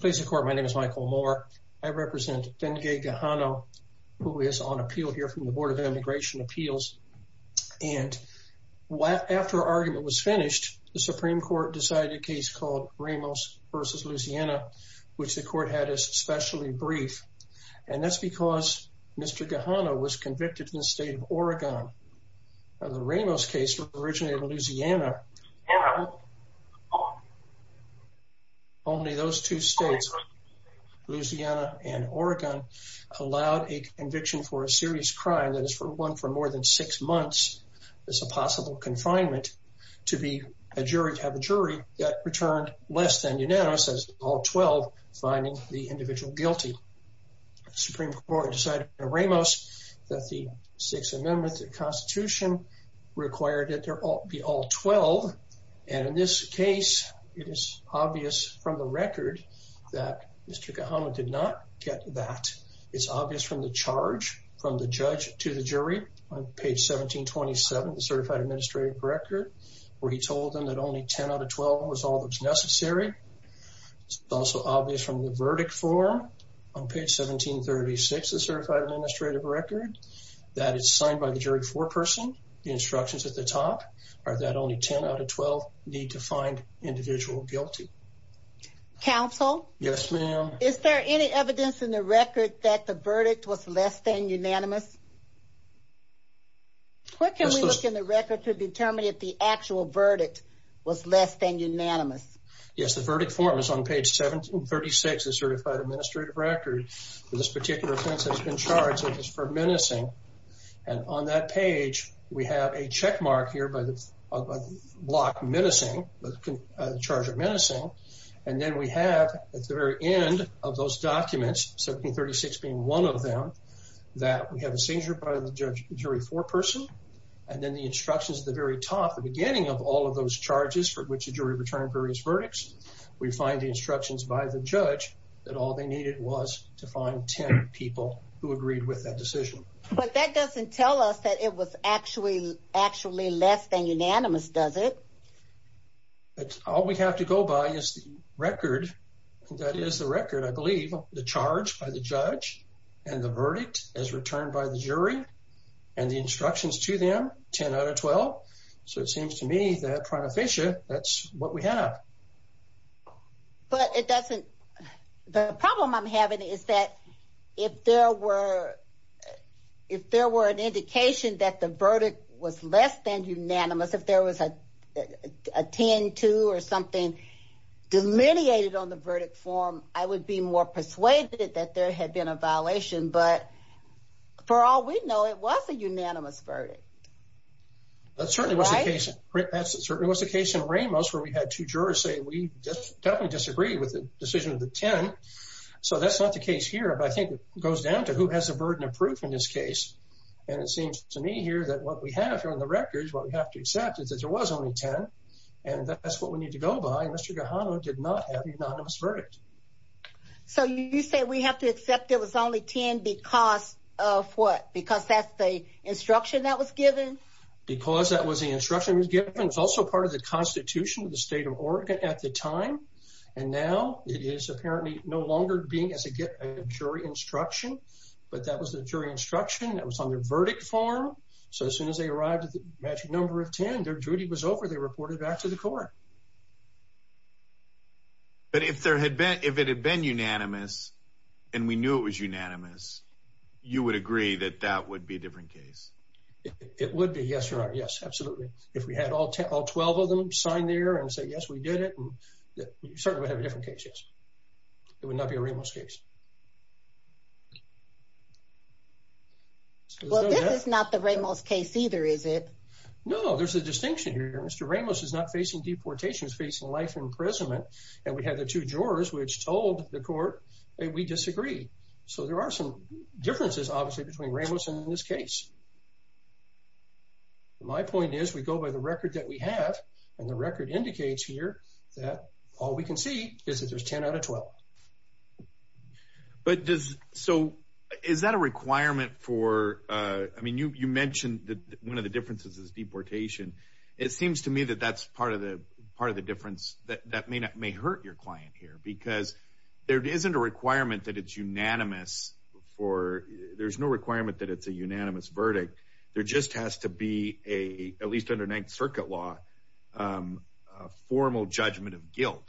Please the court. My name is Michael Moore. I represent Denge Gahano, who is on appeal here from the Board of Immigration Appeals. And after argument was finished, the Supreme Court decided a case called Ramos v. Louisiana, which the court had especially brief. And that's because Mr. Gahano was convicted in the state of Oregon. The Ramos case originated in Louisiana. Now, only those two states, Louisiana and Oregon, allowed a conviction for a serious crime that is for one for more than six months as a possible confinement to be a jury, to have a jury that returned less than unanimous as all 12 finding the individual guilty. The Supreme Court decided in Ramos that the Sixth Amendment to the Constitution required that they all be all 12. And in this case, it is obvious from the record that Mr. Gahano did not get that. It's obvious from the charge from the judge to the jury on page 1727, the certified administrative record, where he told them that only 10 out of 12 was all that was necessary. It's also obvious from the verdict form on page 1736, the certified administrative record, that it's signed by the jury foreperson. The instructions at the top are that only 10 out of 12 need to find individual guilty. Counsel? Yes, ma'am. Is there any evidence in the record that the verdict was less than unanimous? What can we look in the record to determine if the actual verdict was less than unanimous? Yes, the verdict form is on page 1736, the certified administrative record. This particular offense has been charged as for menacing. And on that page, we have a checkmark here by the block menacing, the charge of menacing. And then we have at the very end of those documents, 1736 being one of them, that we have a seizure by the jury foreperson. And then the instructions at the very top, the beginning of all of those charges for which the jury returned various verdicts, we find the instructions by the judge that all they needed was to find 10 people who agreed with that decision. But that doesn't tell us that it was actually, actually less than unanimous, does it? But all we have to go by is the record, and that is the record, I believe, the charge by the judge and the verdict as returned by the jury and the instructions to them, 10 out of 12. So it seems to me that, Pranaficia, that's what we have. But it doesn't, the problem I'm having is that if there were, if there were an indication that the verdict was less than unanimous, if there was a 10-2 or something delineated on the verdict form, I would be more persuaded that there had been a violation, but for all we know, it was a unanimous verdict, right? That certainly was the case in Ramos, where we had two jurors say, we definitely disagree with the decision of the 10. So that's not the case here, but I think it goes down to who has the burden of proof in this case. And it seems to me here that what we have here on the record is what we have to accept is that there was only 10, and that's what we need to go by. Mr. Gajano did not have a unanimous verdict. So you say we have to accept it was only 10 because of what? Because that's the instruction that was given? Because that was the instruction that was given, it was also part of the constitution of the state of Oregon at the time. And now it is apparently no longer being as a jury instruction, but that was the jury instruction that was on their verdict form. So as soon as they arrived at the magic number of 10, their duty was over. They reported back to the court. But if there had been, if it had been unanimous and we knew it was unanimous, you would agree that that would be a different case? It would be yes or no, yes, absolutely. If we had all 12 of them sign there and say, yes, we did it, we certainly would have a different case, yes. It would not be a Ramos case. Well, this is not the Ramos case either, is it? No, there's a distinction here. Mr. Ramos is not facing deportation, he's facing life imprisonment. And we have the two jurors which told the court that we disagree. So there are some differences, obviously, between Ramos and this case. My point is, we go by the record that we have and the record indicates here that all we can see is that there's 10 out of 12. But does, so is that a requirement for, I mean, you mentioned that one of the differences is deportation. It seems to me that that's part of the part of the difference that may not, may hurt your client here because there isn't a requirement that it's unanimous for, there's no requirement that it's a unanimous verdict. There just has to be a, at least under Ninth Circuit law, a formal judgment of guilt.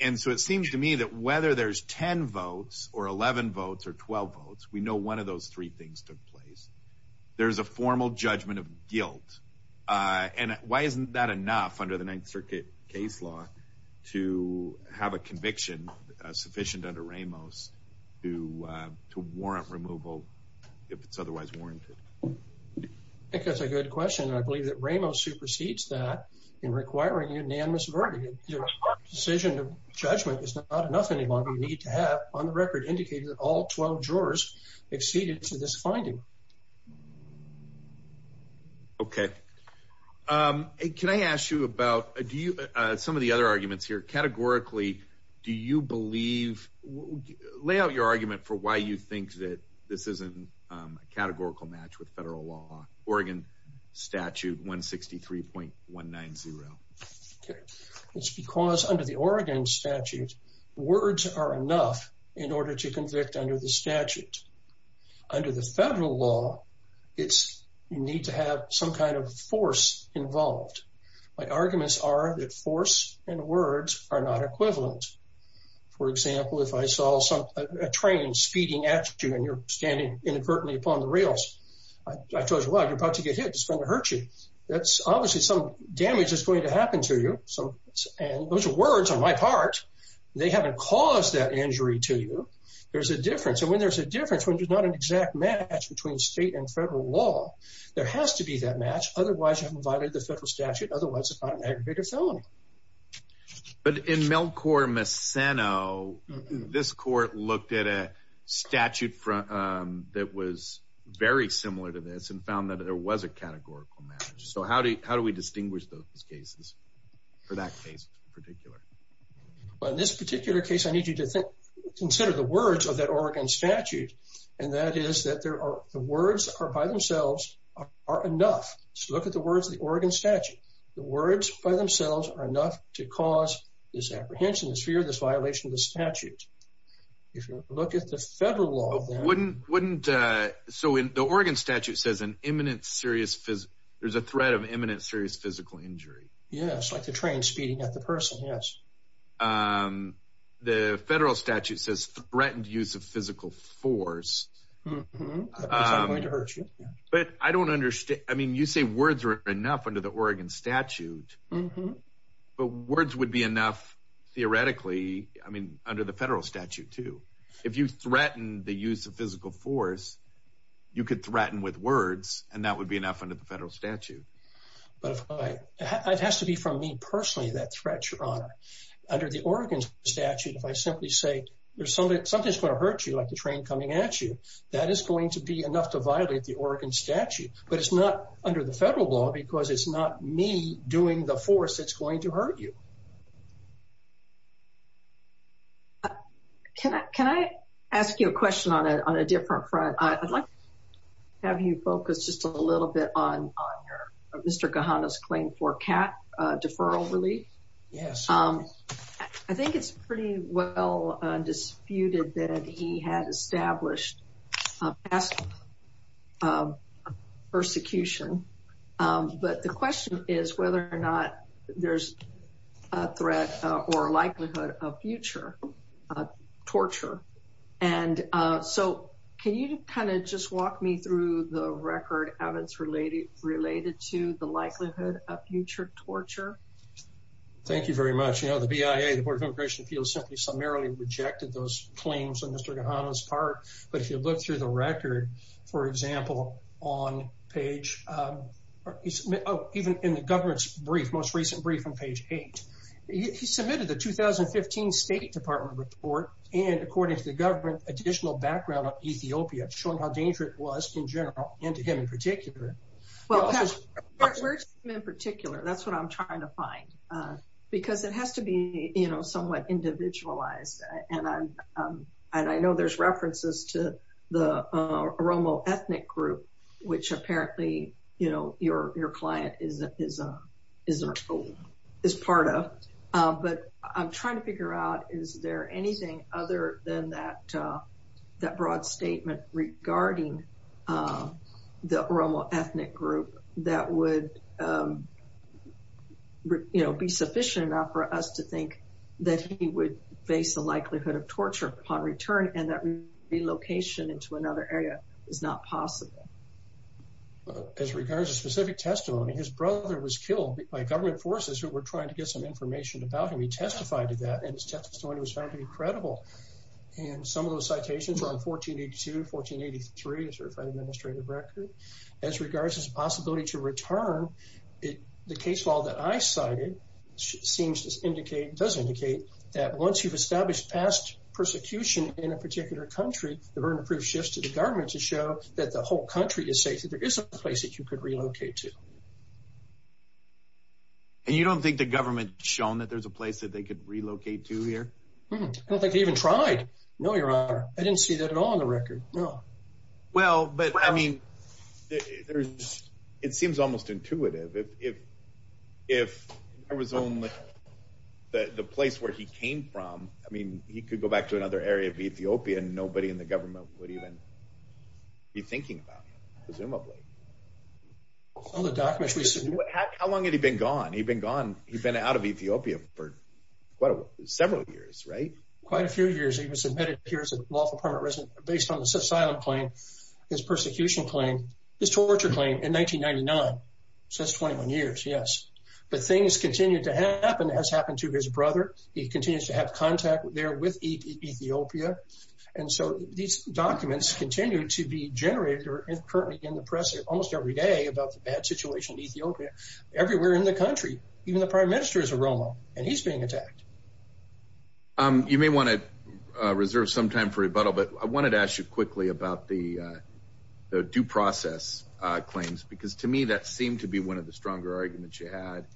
And so it seems to me that whether there's 10 votes or 11 votes or 12 votes, we know one of those three things took place. There's a formal judgment of guilt. And why isn't that enough under the Ninth Circuit case law to have a conviction sufficient under Ramos to warrant removal if it's otherwise warranted? I think that's a good question. And I believe that Ramos supersedes that in requiring unanimous verdict. If your decision of judgment is not enough any longer, you need to have, on the record, indicated that all 12 jurors acceded to this finding. Okay. Can I ask you about, do you, some of the other arguments here, categorically, do you believe, lay out your argument for why you think that this isn't a categorical match with federal law, Oregon Statute 163.190? It's because under the Oregon statute, words are enough in order to convict under the statute. Under the federal law, it's, you need to have some kind of force involved. My arguments are that force and words are not equivalent. For example, if I saw a train speeding at you and you're standing inadvertently upon the rails, I told you, wow, you're about to get hit, it's going to hurt you. That's obviously some damage that's going to happen to you. And those are words on my part. They haven't caused that injury to you. There's a difference. And when there's a difference, when there's not an exact match between state and federal law, there has to be that match. Otherwise, you haven't violated the federal statute. Otherwise, it's not an aggravated felony. But in Melchor Meceno, this court looked at a statute that was very similar to this and found that there was a categorical match. So how do we distinguish those cases for that case in particular? Well, in this particular case, I need you to consider the words of that Oregon statute. And that is that the words are by themselves are enough. So look at the words of the Oregon statute. The words by themselves are enough to cause this apprehension, this fear, this violation of the statute. If you look at the federal law, wouldn't wouldn't. So in the Oregon statute says an imminent serious there's a threat of imminent serious physical injury. Yes. Like the train speeding at the person. Yes. The federal statute says threatened use of physical force. I'm going to hurt you. But I don't understand. I mean, you say words are enough under the Oregon statute. But words would be enough theoretically. I mean, under the federal statute, too. If you threaten the use of physical force, you could threaten with words. And that would be enough under the federal statute. But it has to be from me personally, that threat, Your Honor. Under the Oregon statute, if I simply say there's something that's going to hurt you like the train coming at you. That is going to be enough to violate the Oregon statute. But it's not under the federal law because it's not me doing the force that's going to hurt you. Can I ask you a question on a different front? I'd like to have you focus just a little bit on Mr. Gahanna's claim for cat deferral relief. Yes. I think it's pretty well disputed that he had established. Past persecution. But the question is whether or not there's a threat or likelihood of future torture. And so can you kind of just walk me through the record, Evans, related to the likelihood of future torture? Thank you very much. You know, the BIA, the Board of Immigration Appeals, simply summarily rejected those claims on Mr. Gahanna's part. But if you look through the record, for example, on page, even in the government's brief, most recent brief on page eight, he submitted the 2015 State Department report. And according to the government, additional background on Ethiopia, showing how dangerous it was in general and to him in particular. Well, to him in particular, that's what I'm trying to find, because it has to be, you know, somewhat individualized. And I know there's references to the Oromo ethnic group, which apparently, you know, your client is part of. But I'm trying to figure out, is there anything other than that broad statement regarding the Oromo ethnic group that would, you know, be sufficient enough for us to think that he would face the likelihood of torture upon return and that relocation into another area is not possible? As regards to specific testimony, his brother was killed by government forces who were trying to get some information about him. He testified to that, and his testimony was found to be credible. And some of those citations are on 1482, 1483, a certified administrative record. As regards to his possibility to return, the case law that I cited seems to indicate, does indicate, that once you've established past persecution in a particular country, the burden of proof shifts to the government to show that the whole country is safe, that there is a place that you could relocate to. And you don't think the government shown that there's a place that they could relocate to here? I don't think they even tried. No, Your Honor. I didn't see that at all on the record. No. Well, but I mean, there's, it seems almost intuitive. If, if, if there was only the place where he came from, I mean, he could go back to another area of Ethiopia and nobody in the government would even be thinking about him, presumably. All the documents we see. How long had he been gone? He'd been gone, he'd been out of Ethiopia for quite a while, several years, right? Quite a few years. He was admitted here as a lawful permanent resident based on this asylum claim, his persecution claim, his torture claim in 1999. So that's 21 years. Yes. But things continue to happen, as happened to his brother. He continues to have contact there with Ethiopia. And so these documents continue to be generated or currently in the press almost every day about the bad situation in Ethiopia, everywhere in the country. Even the prime minister is a Romo and he's being attacked. You may want to reserve some time for rebuttal, but I wanted to ask you quickly about the due process claims, because to me, that seemed to be one of the stronger arguments you had.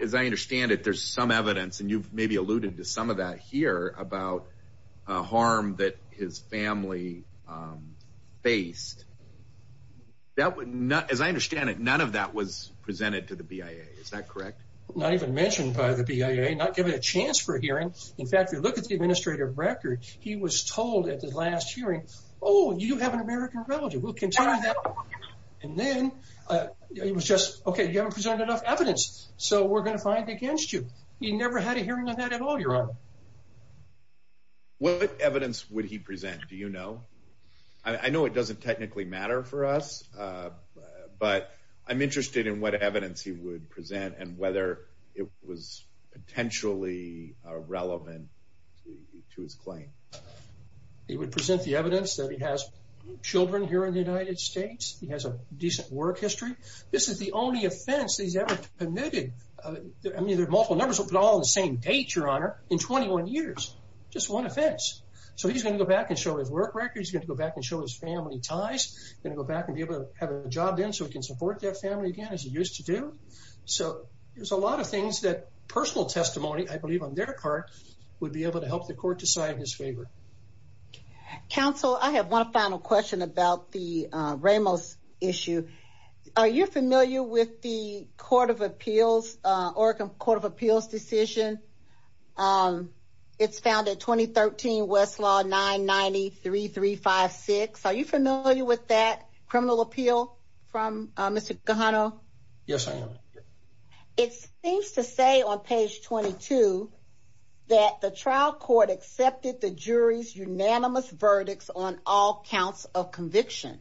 As I understand it, there's some evidence, and you've maybe alluded to some of that here about harm that his family faced. That would not, as I understand it, none of that was presented to the BIA. Is that correct? Not even mentioned by the BIA, not given a chance for a hearing. In fact, if you look at the administrative record, he was told at the last hearing, oh, you have an American relative. We'll continue that. And then it was just, OK, you haven't presented enough evidence, so we're going to fight against you. He never had a hearing on that at all, Your Honor. What evidence would he present, do you know? I know it doesn't technically matter for us, but I'm interested in what evidence he would present and whether it was potentially relevant to his claim. He would present the evidence that he has children here in the United States. He has a decent work history. This is the only offense he's ever committed. I mean, there are multiple numbers, but all on the same date, Your Honor, in 21 years. Just one offense. So he's going to go back and show his work records, going to go back and show his family ties, going to go back and be able to have a job then so he can support their family again, as he used to do. So there's a lot of things that personal testimony, I believe on their part, would be able to help the court decide in his favor. Counsel, I have one final question about the Ramos issue. Are you familiar with the Court of Appeals, Oregon Court of Appeals decision? It's found at 2013 Westlaw 993356. Are you familiar with that criminal appeal from Mr. Gajano? Yes, I am. It seems to say on page 22 that the trial court accepted the jury's unanimous verdicts on all counts of conviction.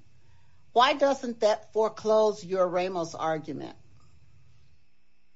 Why doesn't that foreclose your Ramos argument?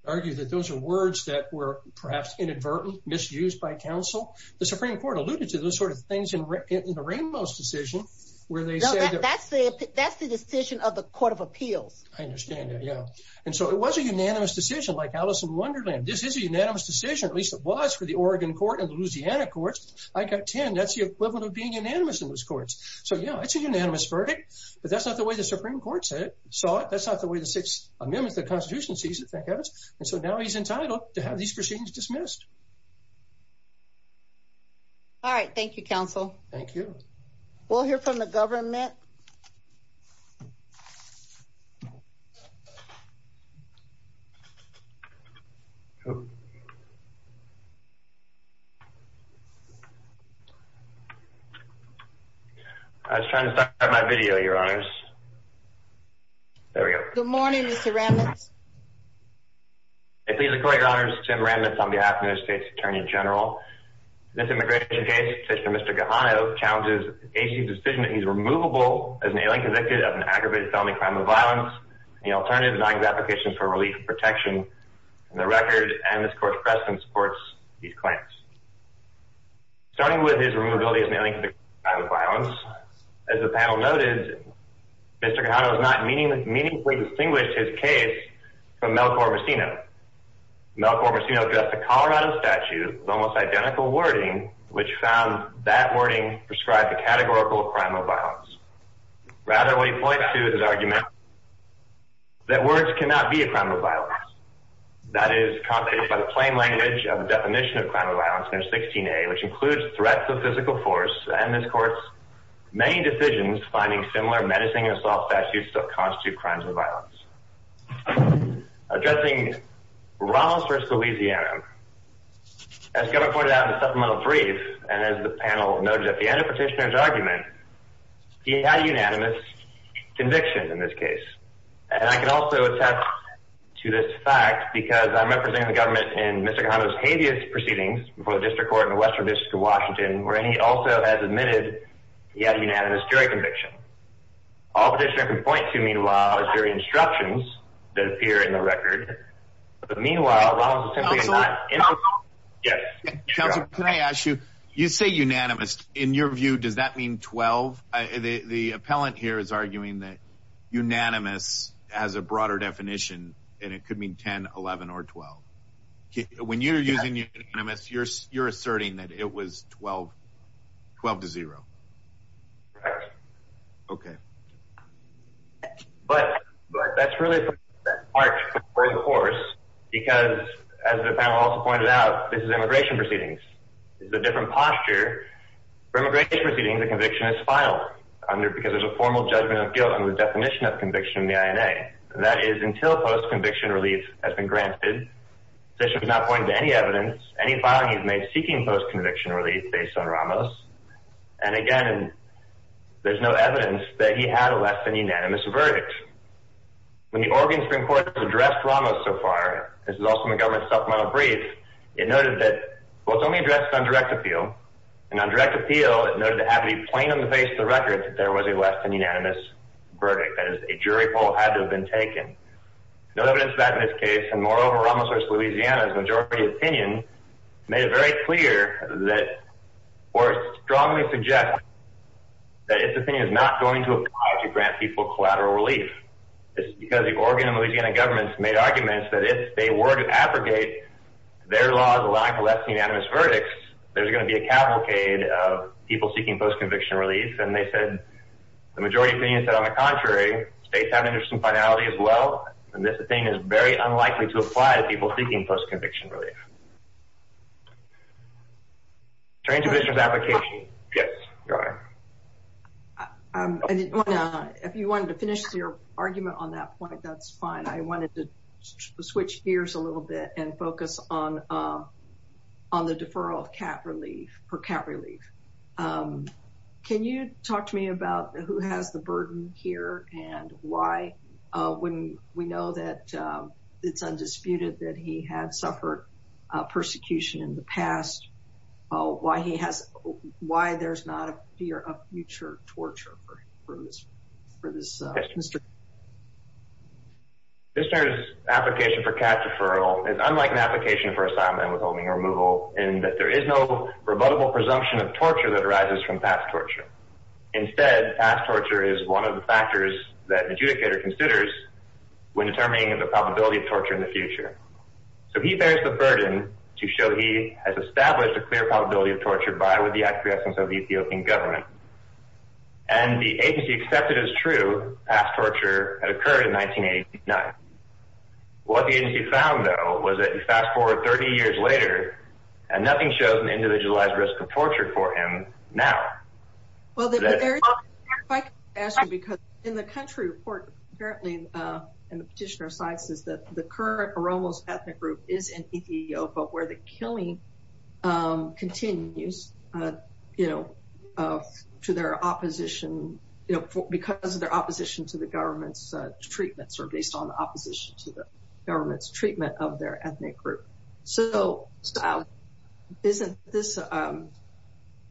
I would argue that those are words that were perhaps inadvertently misused by counsel. The Supreme Court alluded to those sort of things in the Ramos decision, where they said that's the decision of the Court of Appeals. I understand that, yeah. And so it was a unanimous decision, like Alice in Wonderland. This is a unanimous decision, at least it was for the Oregon court and the Louisiana courts. I got 10. That's the equivalent of being unanimous in those courts. So, yeah, it's a unanimous verdict. But that's not the way the Supreme Court said it. So that's not the way the Sixth Amendment of the Constitution sees it, thank heavens. And so now he's entitled to have these proceedings dismissed. All right. Thank you, counsel. Thank you. We'll hear from the government. I was trying to start my video, Your Honors. There we go. Good morning, Mr. Ramos. I plead the court, Your Honors, Tim Ramos on behalf of the United States Attorney General. This immigration case, Mr. Gajano, challenges the agency's decision that he's removable as an alien convicted of an aggravated felony crime of violence. The alternative denied his application for relief and protection. The record and this court's precedent supports these claims. Starting with his removability as an alien convicted of a crime of violence, as the panel noted, Mr. Gajano meaningfully distinguished his case from Mel Corvacino. Mel Corvacino addressed a Colorado statute with almost identical wording, which found that wording prescribed a categorical crime of violence. Rather, what he points to is his argument that words cannot be a crime of violence. That is, constituted by the plain language of the definition of crime of violence under 16A, which includes threats of physical force. And this court's many decisions finding similar menacing and soft statutes still constitute crimes of violence. Addressing Ramos versus Louisiana, as Governor pointed out in the supplemental brief, and as the panel noted at the end of Petitioner's argument, he had a unanimous conviction in this case. And I can also attach to this fact because I'm representing the government in Mr. Gajano's habeas proceedings before the District Court in the Western District of Washington, where he also has admitted he had a unanimous jury conviction. All Petitioner can point to, meanwhile, is jury instructions that appear in the record. But meanwhile, Ramos is simply not in the record. Yes. Counselor, can I ask you, you say unanimous. In your view, does that mean 12? The appellant here is arguing that unanimous has a broader definition, and it could mean 10, 11, or 12. When you're using unanimous, you're asserting that it was 12, 12 to 0. OK. But that's really the part to put forward the horse, because as the panel also pointed out, this is immigration proceedings. It's a different posture. For immigration proceedings, a conviction is filed because there's a formal judgment of guilt on the definition of conviction in the INA. That is, until post-conviction relief has been granted, Petitioner has not pointed to any evidence, any filing he's made seeking post-conviction relief based on Ramos. And again, there's no evidence that he had a less than unanimous verdict. When the Oregon Supreme Court has addressed Ramos so far, this is also in the government supplemental brief, it noted that, well, it's only addressed on direct appeal. And on direct appeal, it noted to have it be plain on the face of the record that there was a less than unanimous verdict. That is, a jury poll had to have been taken. No evidence of that in this case. And moreover, Ramos versus Louisiana's majority opinion made it very clear that or strongly suggest that its opinion is not going to apply to grant people collateral relief. It's because the Oregon and Louisiana governments made arguments that if they were to abrogate their laws allowing for less than unanimous verdicts, there's going to be a cavalcade of people seeking post-conviction relief. And they said, the majority opinion said, on the contrary, states have an interest in finality as well. And this opinion is very unlikely to apply to people seeking post-conviction relief. Transition application. Yes, Your Honor. If you wanted to finish your argument on that point, that's fine. I wanted to switch gears a little bit and focus on the deferral of cap relief for cap relief. Can you talk to me about who has the burden here and why, when we know that it's undisputed that he had suffered persecution in the past, why he has, why there's not a fear of future torture for this Mr. This application for cap deferral is unlike an application for assignment withholding removal in that there is no rebuttable presumption of torture that arises from past torture. Instead, past torture is one of the factors that adjudicator considers when determining the probability of torture in the future. So he bears the burden to show he has established a clear probability of torture by with the acquiescence of Ethiopian government. And the agency accepted as true past torture had occurred in 1989. What the agency found, though, was that you fast forward 30 years later and nothing shows an individualized risk of torture for him now. Well, there is, if I could ask you, because in the country report, apparently, and the petitioner cites is that the current Oromos ethnic group is in Ethiopia, but where the killing continues. You know, to their opposition, you know, because of their opposition to the government's treatments are based on opposition to the government's treatment of their ethnic group. So isn't this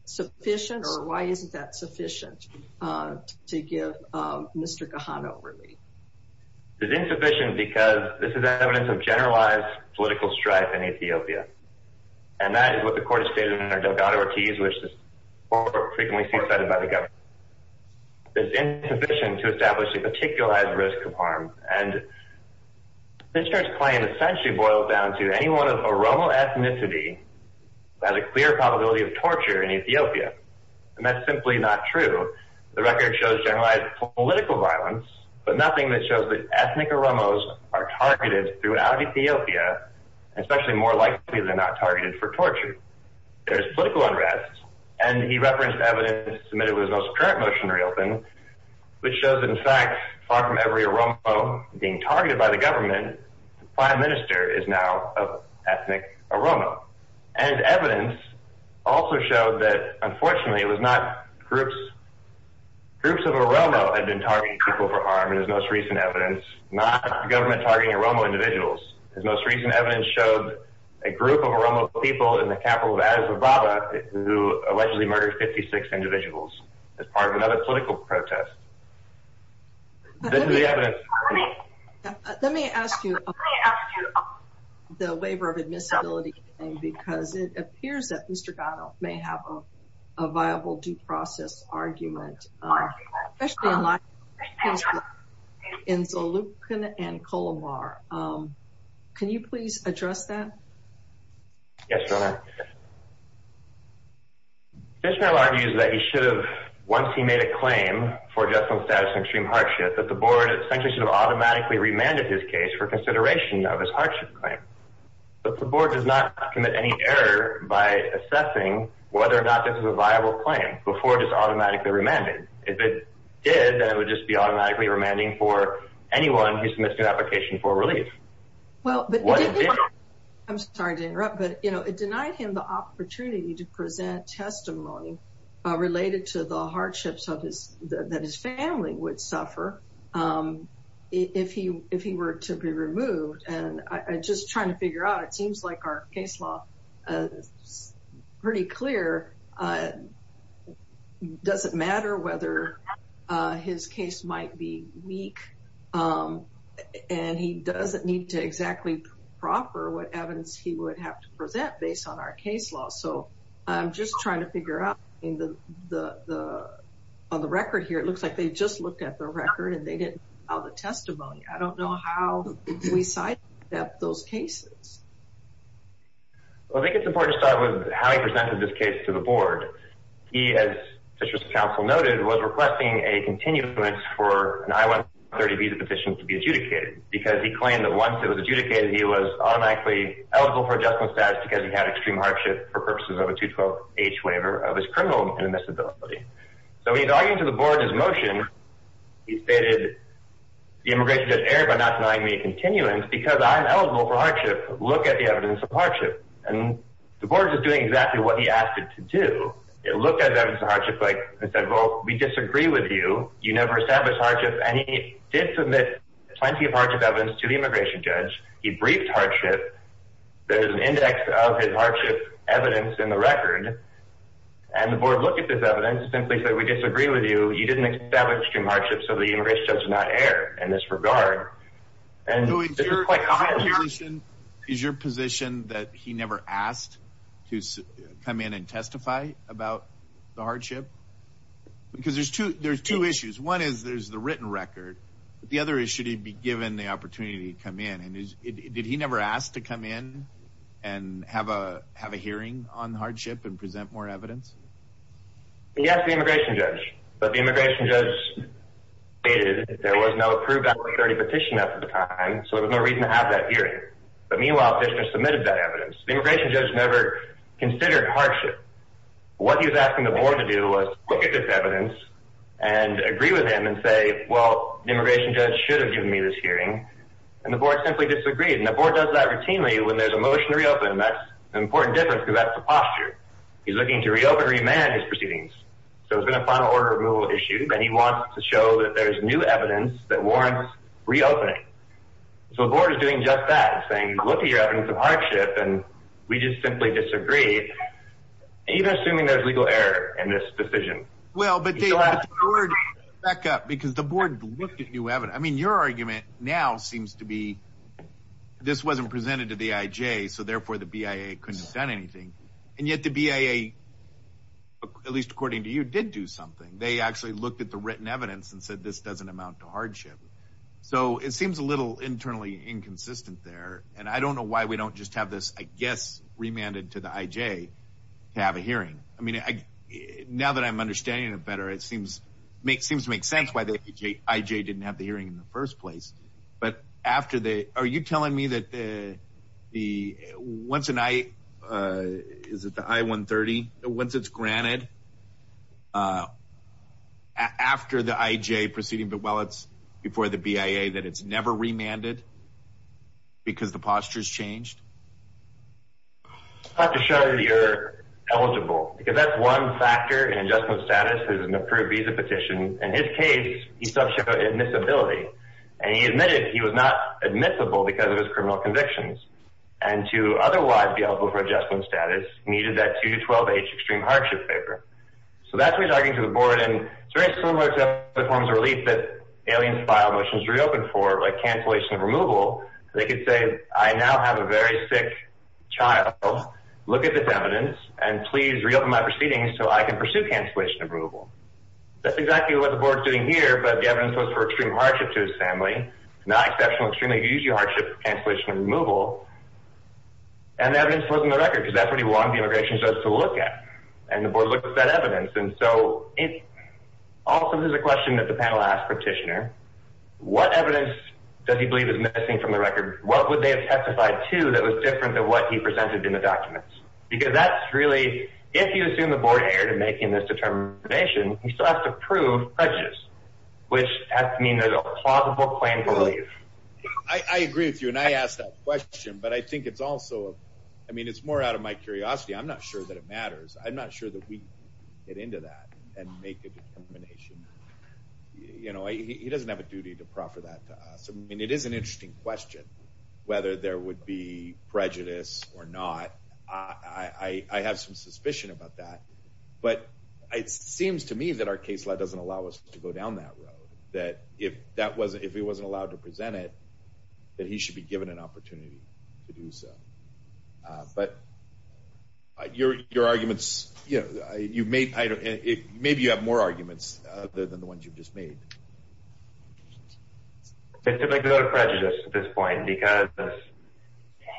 sufficient or why isn't that sufficient to give Mr. Gatto Ortiz, which is frequently cited by the government, is insufficient to establish a particular risk of harm? And this claim essentially boils down to any one of Oromo ethnicity has a clear probability of torture in Ethiopia. And that's simply not true. The record shows generalized political violence, but nothing that shows that ethnic Oromos are targeted throughout Ethiopia, especially more likely they're not targeted for torture. There's political unrest. And he referenced evidence submitted with his most current motion reopen, which shows, in fact, far from every Oromo being targeted by the government, the prime minister is now an ethnic Oromo. And evidence also showed that, unfortunately, it was not groups. Groups of Oromo had been targeting people for harm in his most recent evidence, not government targeting Oromo individuals. His most recent evidence showed a group of Oromo people in the capital of Azobaba who allegedly murdered 56 individuals as part of another political protest. Let me ask you the waiver of admissibility, because it appears that Mr. Gatto may have a viable due process argument, especially in Zalupkin and Colomar. Can you please address that? Yes, Your Honor. The judge now argues that he should have, once he made a claim for justice and extreme hardship, that the board essentially should have automatically remanded his case for consideration of his hardship claim. But the board does not commit any error by assessing whether or not this is a viable claim before it is automatically remanded. If it did, then it would just be automatically remanding for anyone who submits an application for relief. Well, I'm sorry to interrupt, but it denied him the opportunity to present testimony related to the hardships that his family would suffer if he were to be removed. And I'm just trying to figure out, it seems like our case law is pretty clear. It doesn't matter whether his case might be weak, and he doesn't need to exactly proffer what evidence he would have to present based on our case law. So I'm just trying to figure out, on the record here, it looks like they just looked at the record and they didn't file the testimony. I don't know how we sidestepped those cases. Well, I think it's important to start with how he presented this case to the board. He, as Citrus Council noted, was requesting a continuance for an I-130 visa petition to be adjudicated, because he claimed that once it was adjudicated, he was automatically eligible for adjustment status because he had extreme hardship for purposes of a 212H waiver of his criminal indemnizability. So he's arguing to the board his motion. He stated, the immigration judge erred by not denying me a continuance because I'm eligible for hardship. Look at the evidence of hardship. And the board is just doing exactly what he asked it to do. It looked at the evidence of hardship and said, well, we disagree with you. You never established hardship. And he did submit plenty of hardship evidence to the immigration judge. He briefed hardship. There's an index of his hardship evidence in the record. And the board looked at this evidence and simply said, we disagree with you. You didn't establish extreme hardship, so the immigration judge did not err in this regard. Is your position that he never asked to come in and testify about the hardship? Because there's two issues. One is there's the written record. The other is, should he be given the opportunity to come in? Did he never ask to come in and have a hearing on the hardship and present more evidence? Yes, the immigration judge. But the immigration judge stated there was no approved application at the time, so there was no reason to have that hearing. But meanwhile, Fishner submitted that evidence. The immigration judge never considered hardship. What he was asking the board to do was look at this evidence and agree with him and say, well, the immigration judge should have given me this hearing. And the board simply disagreed. And the board does that routinely when there's a motion to reopen. And that's an important difference, because that's the posture. He's looking to reopen and remand his proceedings. So it's been a final order of removal issue, and he wants to show that there's new evidence that warrants reopening. So the board is doing just that. It's saying, look at your evidence of hardship, and we just simply disagree, even assuming there's legal error in this decision. Well, but David, back up, because the board looked at new evidence. I mean, your argument now seems to be this wasn't presented to the IJ, so therefore the BIA couldn't have done anything. And yet the BIA, at least according to you, did do something. They actually looked at the written evidence and said this doesn't amount to hardship. So it seems a little internally inconsistent there. And I don't know why we don't just have this, I guess, remanded to the IJ to have a hearing. I mean, now that I'm understanding it better, it seems to make sense why the IJ didn't have the hearing in the first place. But after the – are you telling me that the – once an I – is it the I-130? Once it's granted, after the IJ proceeding, but while it's before the BIA, that it's never remanded because the posture's changed? I'd have to show that you're eligible, because that's one factor in adjustment status is an approved visa petition. In his case, he's talking about admissibility, and he admitted he was not admissible because of his criminal convictions. And to otherwise be eligible for adjustment status, he needed that 2-12H extreme hardship paper. So that's what he's arguing to the board, and it's very similar except it forms a relief that aliens file motions to reopen for, like cancellation of removal. They could say, I now have a very sick child. Look at this evidence, and please reopen my proceedings so I can pursue cancellation of removal. That's exactly what the board's doing here, but the evidence was for extreme hardship to his family, not exceptional, extremely huge hardship, cancellation of removal. And the evidence wasn't the record, because that's what he wanted the immigration judge to look at, and the board looked at that evidence. Also, there's a question that the panel asked Petitioner. What evidence does he believe is missing from the record? What would they have testified to that was different than what he presented in the documents? Because that's really, if you assume the board erred in making this determination, you still have to prove prejudice, which has to mean there's a plausible claim for relief. I agree with you, and I asked that question, but I think it's also, I mean, it's more out of my curiosity. I'm not sure that it matters. I'm not sure that we get into that and make a determination. You know, he doesn't have a duty to proffer that to us. I mean, it is an interesting question, whether there would be prejudice or not. I have some suspicion about that, but it seems to me that our case doesn't allow us to go down that road, that if he wasn't allowed to present it, that he should be given an opportunity to do so. But your arguments, you know, maybe you have more arguments than the ones you've just made. It's typically prejudice at this point, because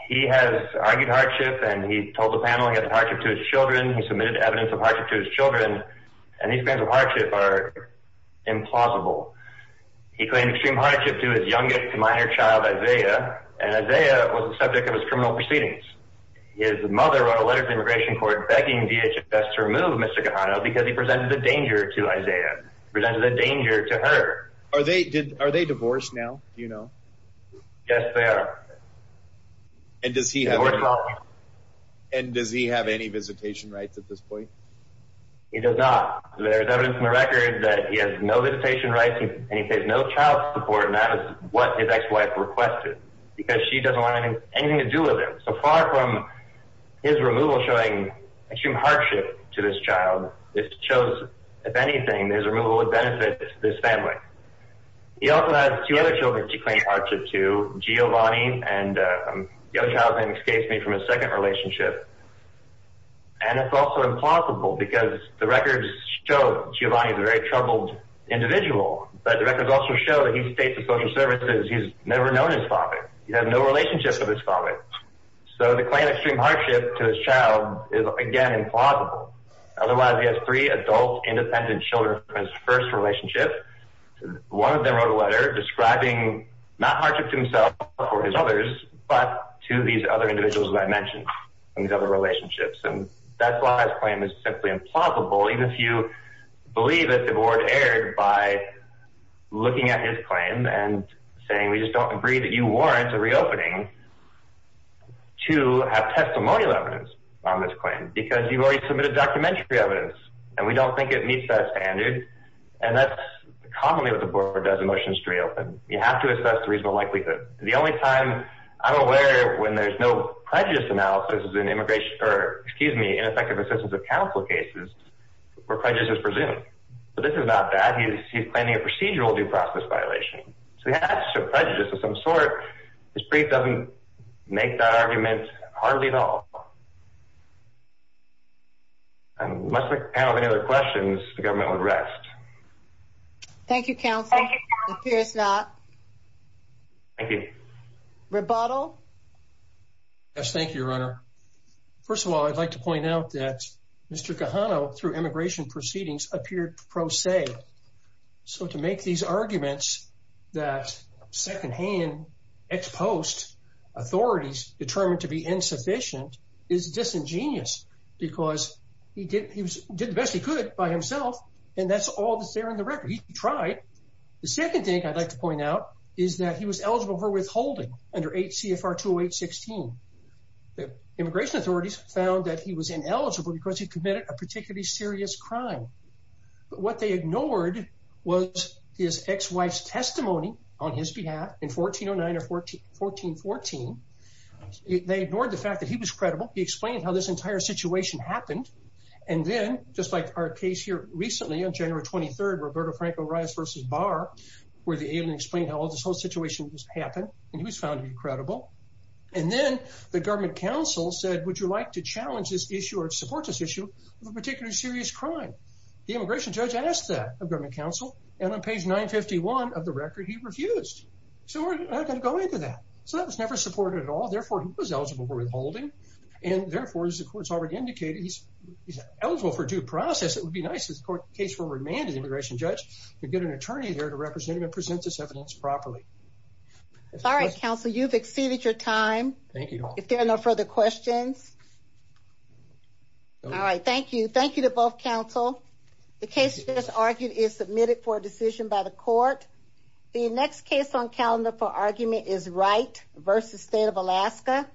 he has argued hardship, and he told the panel he had hardship to his children. He submitted evidence of hardship to his children, and these claims of hardship are implausible. He claimed extreme hardship to his youngest minor child, Isaiah, and Isaiah was the subject of his criminal proceedings. His mother wrote a letter to the Immigration Court begging DHS to remove Mr. Kahano because he presented a danger to Isaiah, presented a danger to her. Are they divorced now, do you know? Yes, they are. And does he have any visitation rights at this point? He does not. There is evidence in the record that he has no visitation rights, and he pays no child support, and that is what his ex-wife requested, because she doesn't want anything to do with him. So far from his removal showing extreme hardship to this child, it shows, if anything, his removal would benefit this family. He also has two other children to claim hardship to, Giovanni and the other child, excuse me, from his second relationship. And it's also implausible, because the records show Giovanni is a very troubled individual, but the records also show that he stays at social services. He's never known his father. He has no relationship with his father. So to claim extreme hardship to his child is, again, implausible. Otherwise, he has three adult, independent children from his first relationship. One of them wrote a letter describing not hardship to himself or his others, but to these other individuals that I mentioned in these other relationships. And that's why his claim is simply implausible, even if you believe that the board erred by looking at his claim and saying, we just don't agree that you warrant a reopening to have testimonial evidence on this claim, because you've already submitted documentary evidence, and we don't think it meets that standard. And that's commonly what the board does in motions to reopen. You have to assess the reasonable likelihood. The only time I'm aware when there's no prejudice analysis is in effective assistance of counsel cases where prejudice is presumed. But this is not bad. He's planning a procedural due process violation. So he has some prejudice of some sort. His brief doesn't make that argument hardly at all. Unless the panel has any other questions, the government would rest. Thank you, counsel. Thank you, counsel. Appears not. Thank you. Rebuttal? Yes, thank you, Your Honor. First of all, I'd like to point out that Mr. Cajano, through immigration proceedings, appeared pro se. So to make these arguments that secondhand ex post authorities determined to be insufficient is disingenuous, because he did the best he could by himself. And that's all that's there in the record. He tried. The second thing I'd like to point out is that he was eligible for withholding under 8 CFR 208-16. Immigration authorities found that he was ineligible because he committed a particularly serious crime. But what they ignored was his ex-wife's testimony on his behalf in 1409 or 1414. They ignored the fact that he was credible. He explained how this entire situation happened. And then, just like our case here recently on January 23rd, Roberto Franco Reyes v. Barr, where the alien explained how this whole situation just happened, and he was found to be credible. And then the government counsel said, would you like to challenge this issue or support this issue of a particular serious crime? The immigration judge asked that of government counsel. And on page 951 of the record, he refused. So we're not going to go into that. So that was never supported at all. Therefore, he was eligible for withholding. And therefore, as the court has already indicated, he's eligible for due process. It would be nice if the case were remanded to the immigration judge to get an attorney there to represent him and present this evidence properly. All right, counsel. You've exceeded your time. Thank you. If there are no further questions. All right. Thank you. Thank you to both counsel. The case just argued is submitted for a decision by the court. The next case on calendar for argument is Wright v. State of Alaska.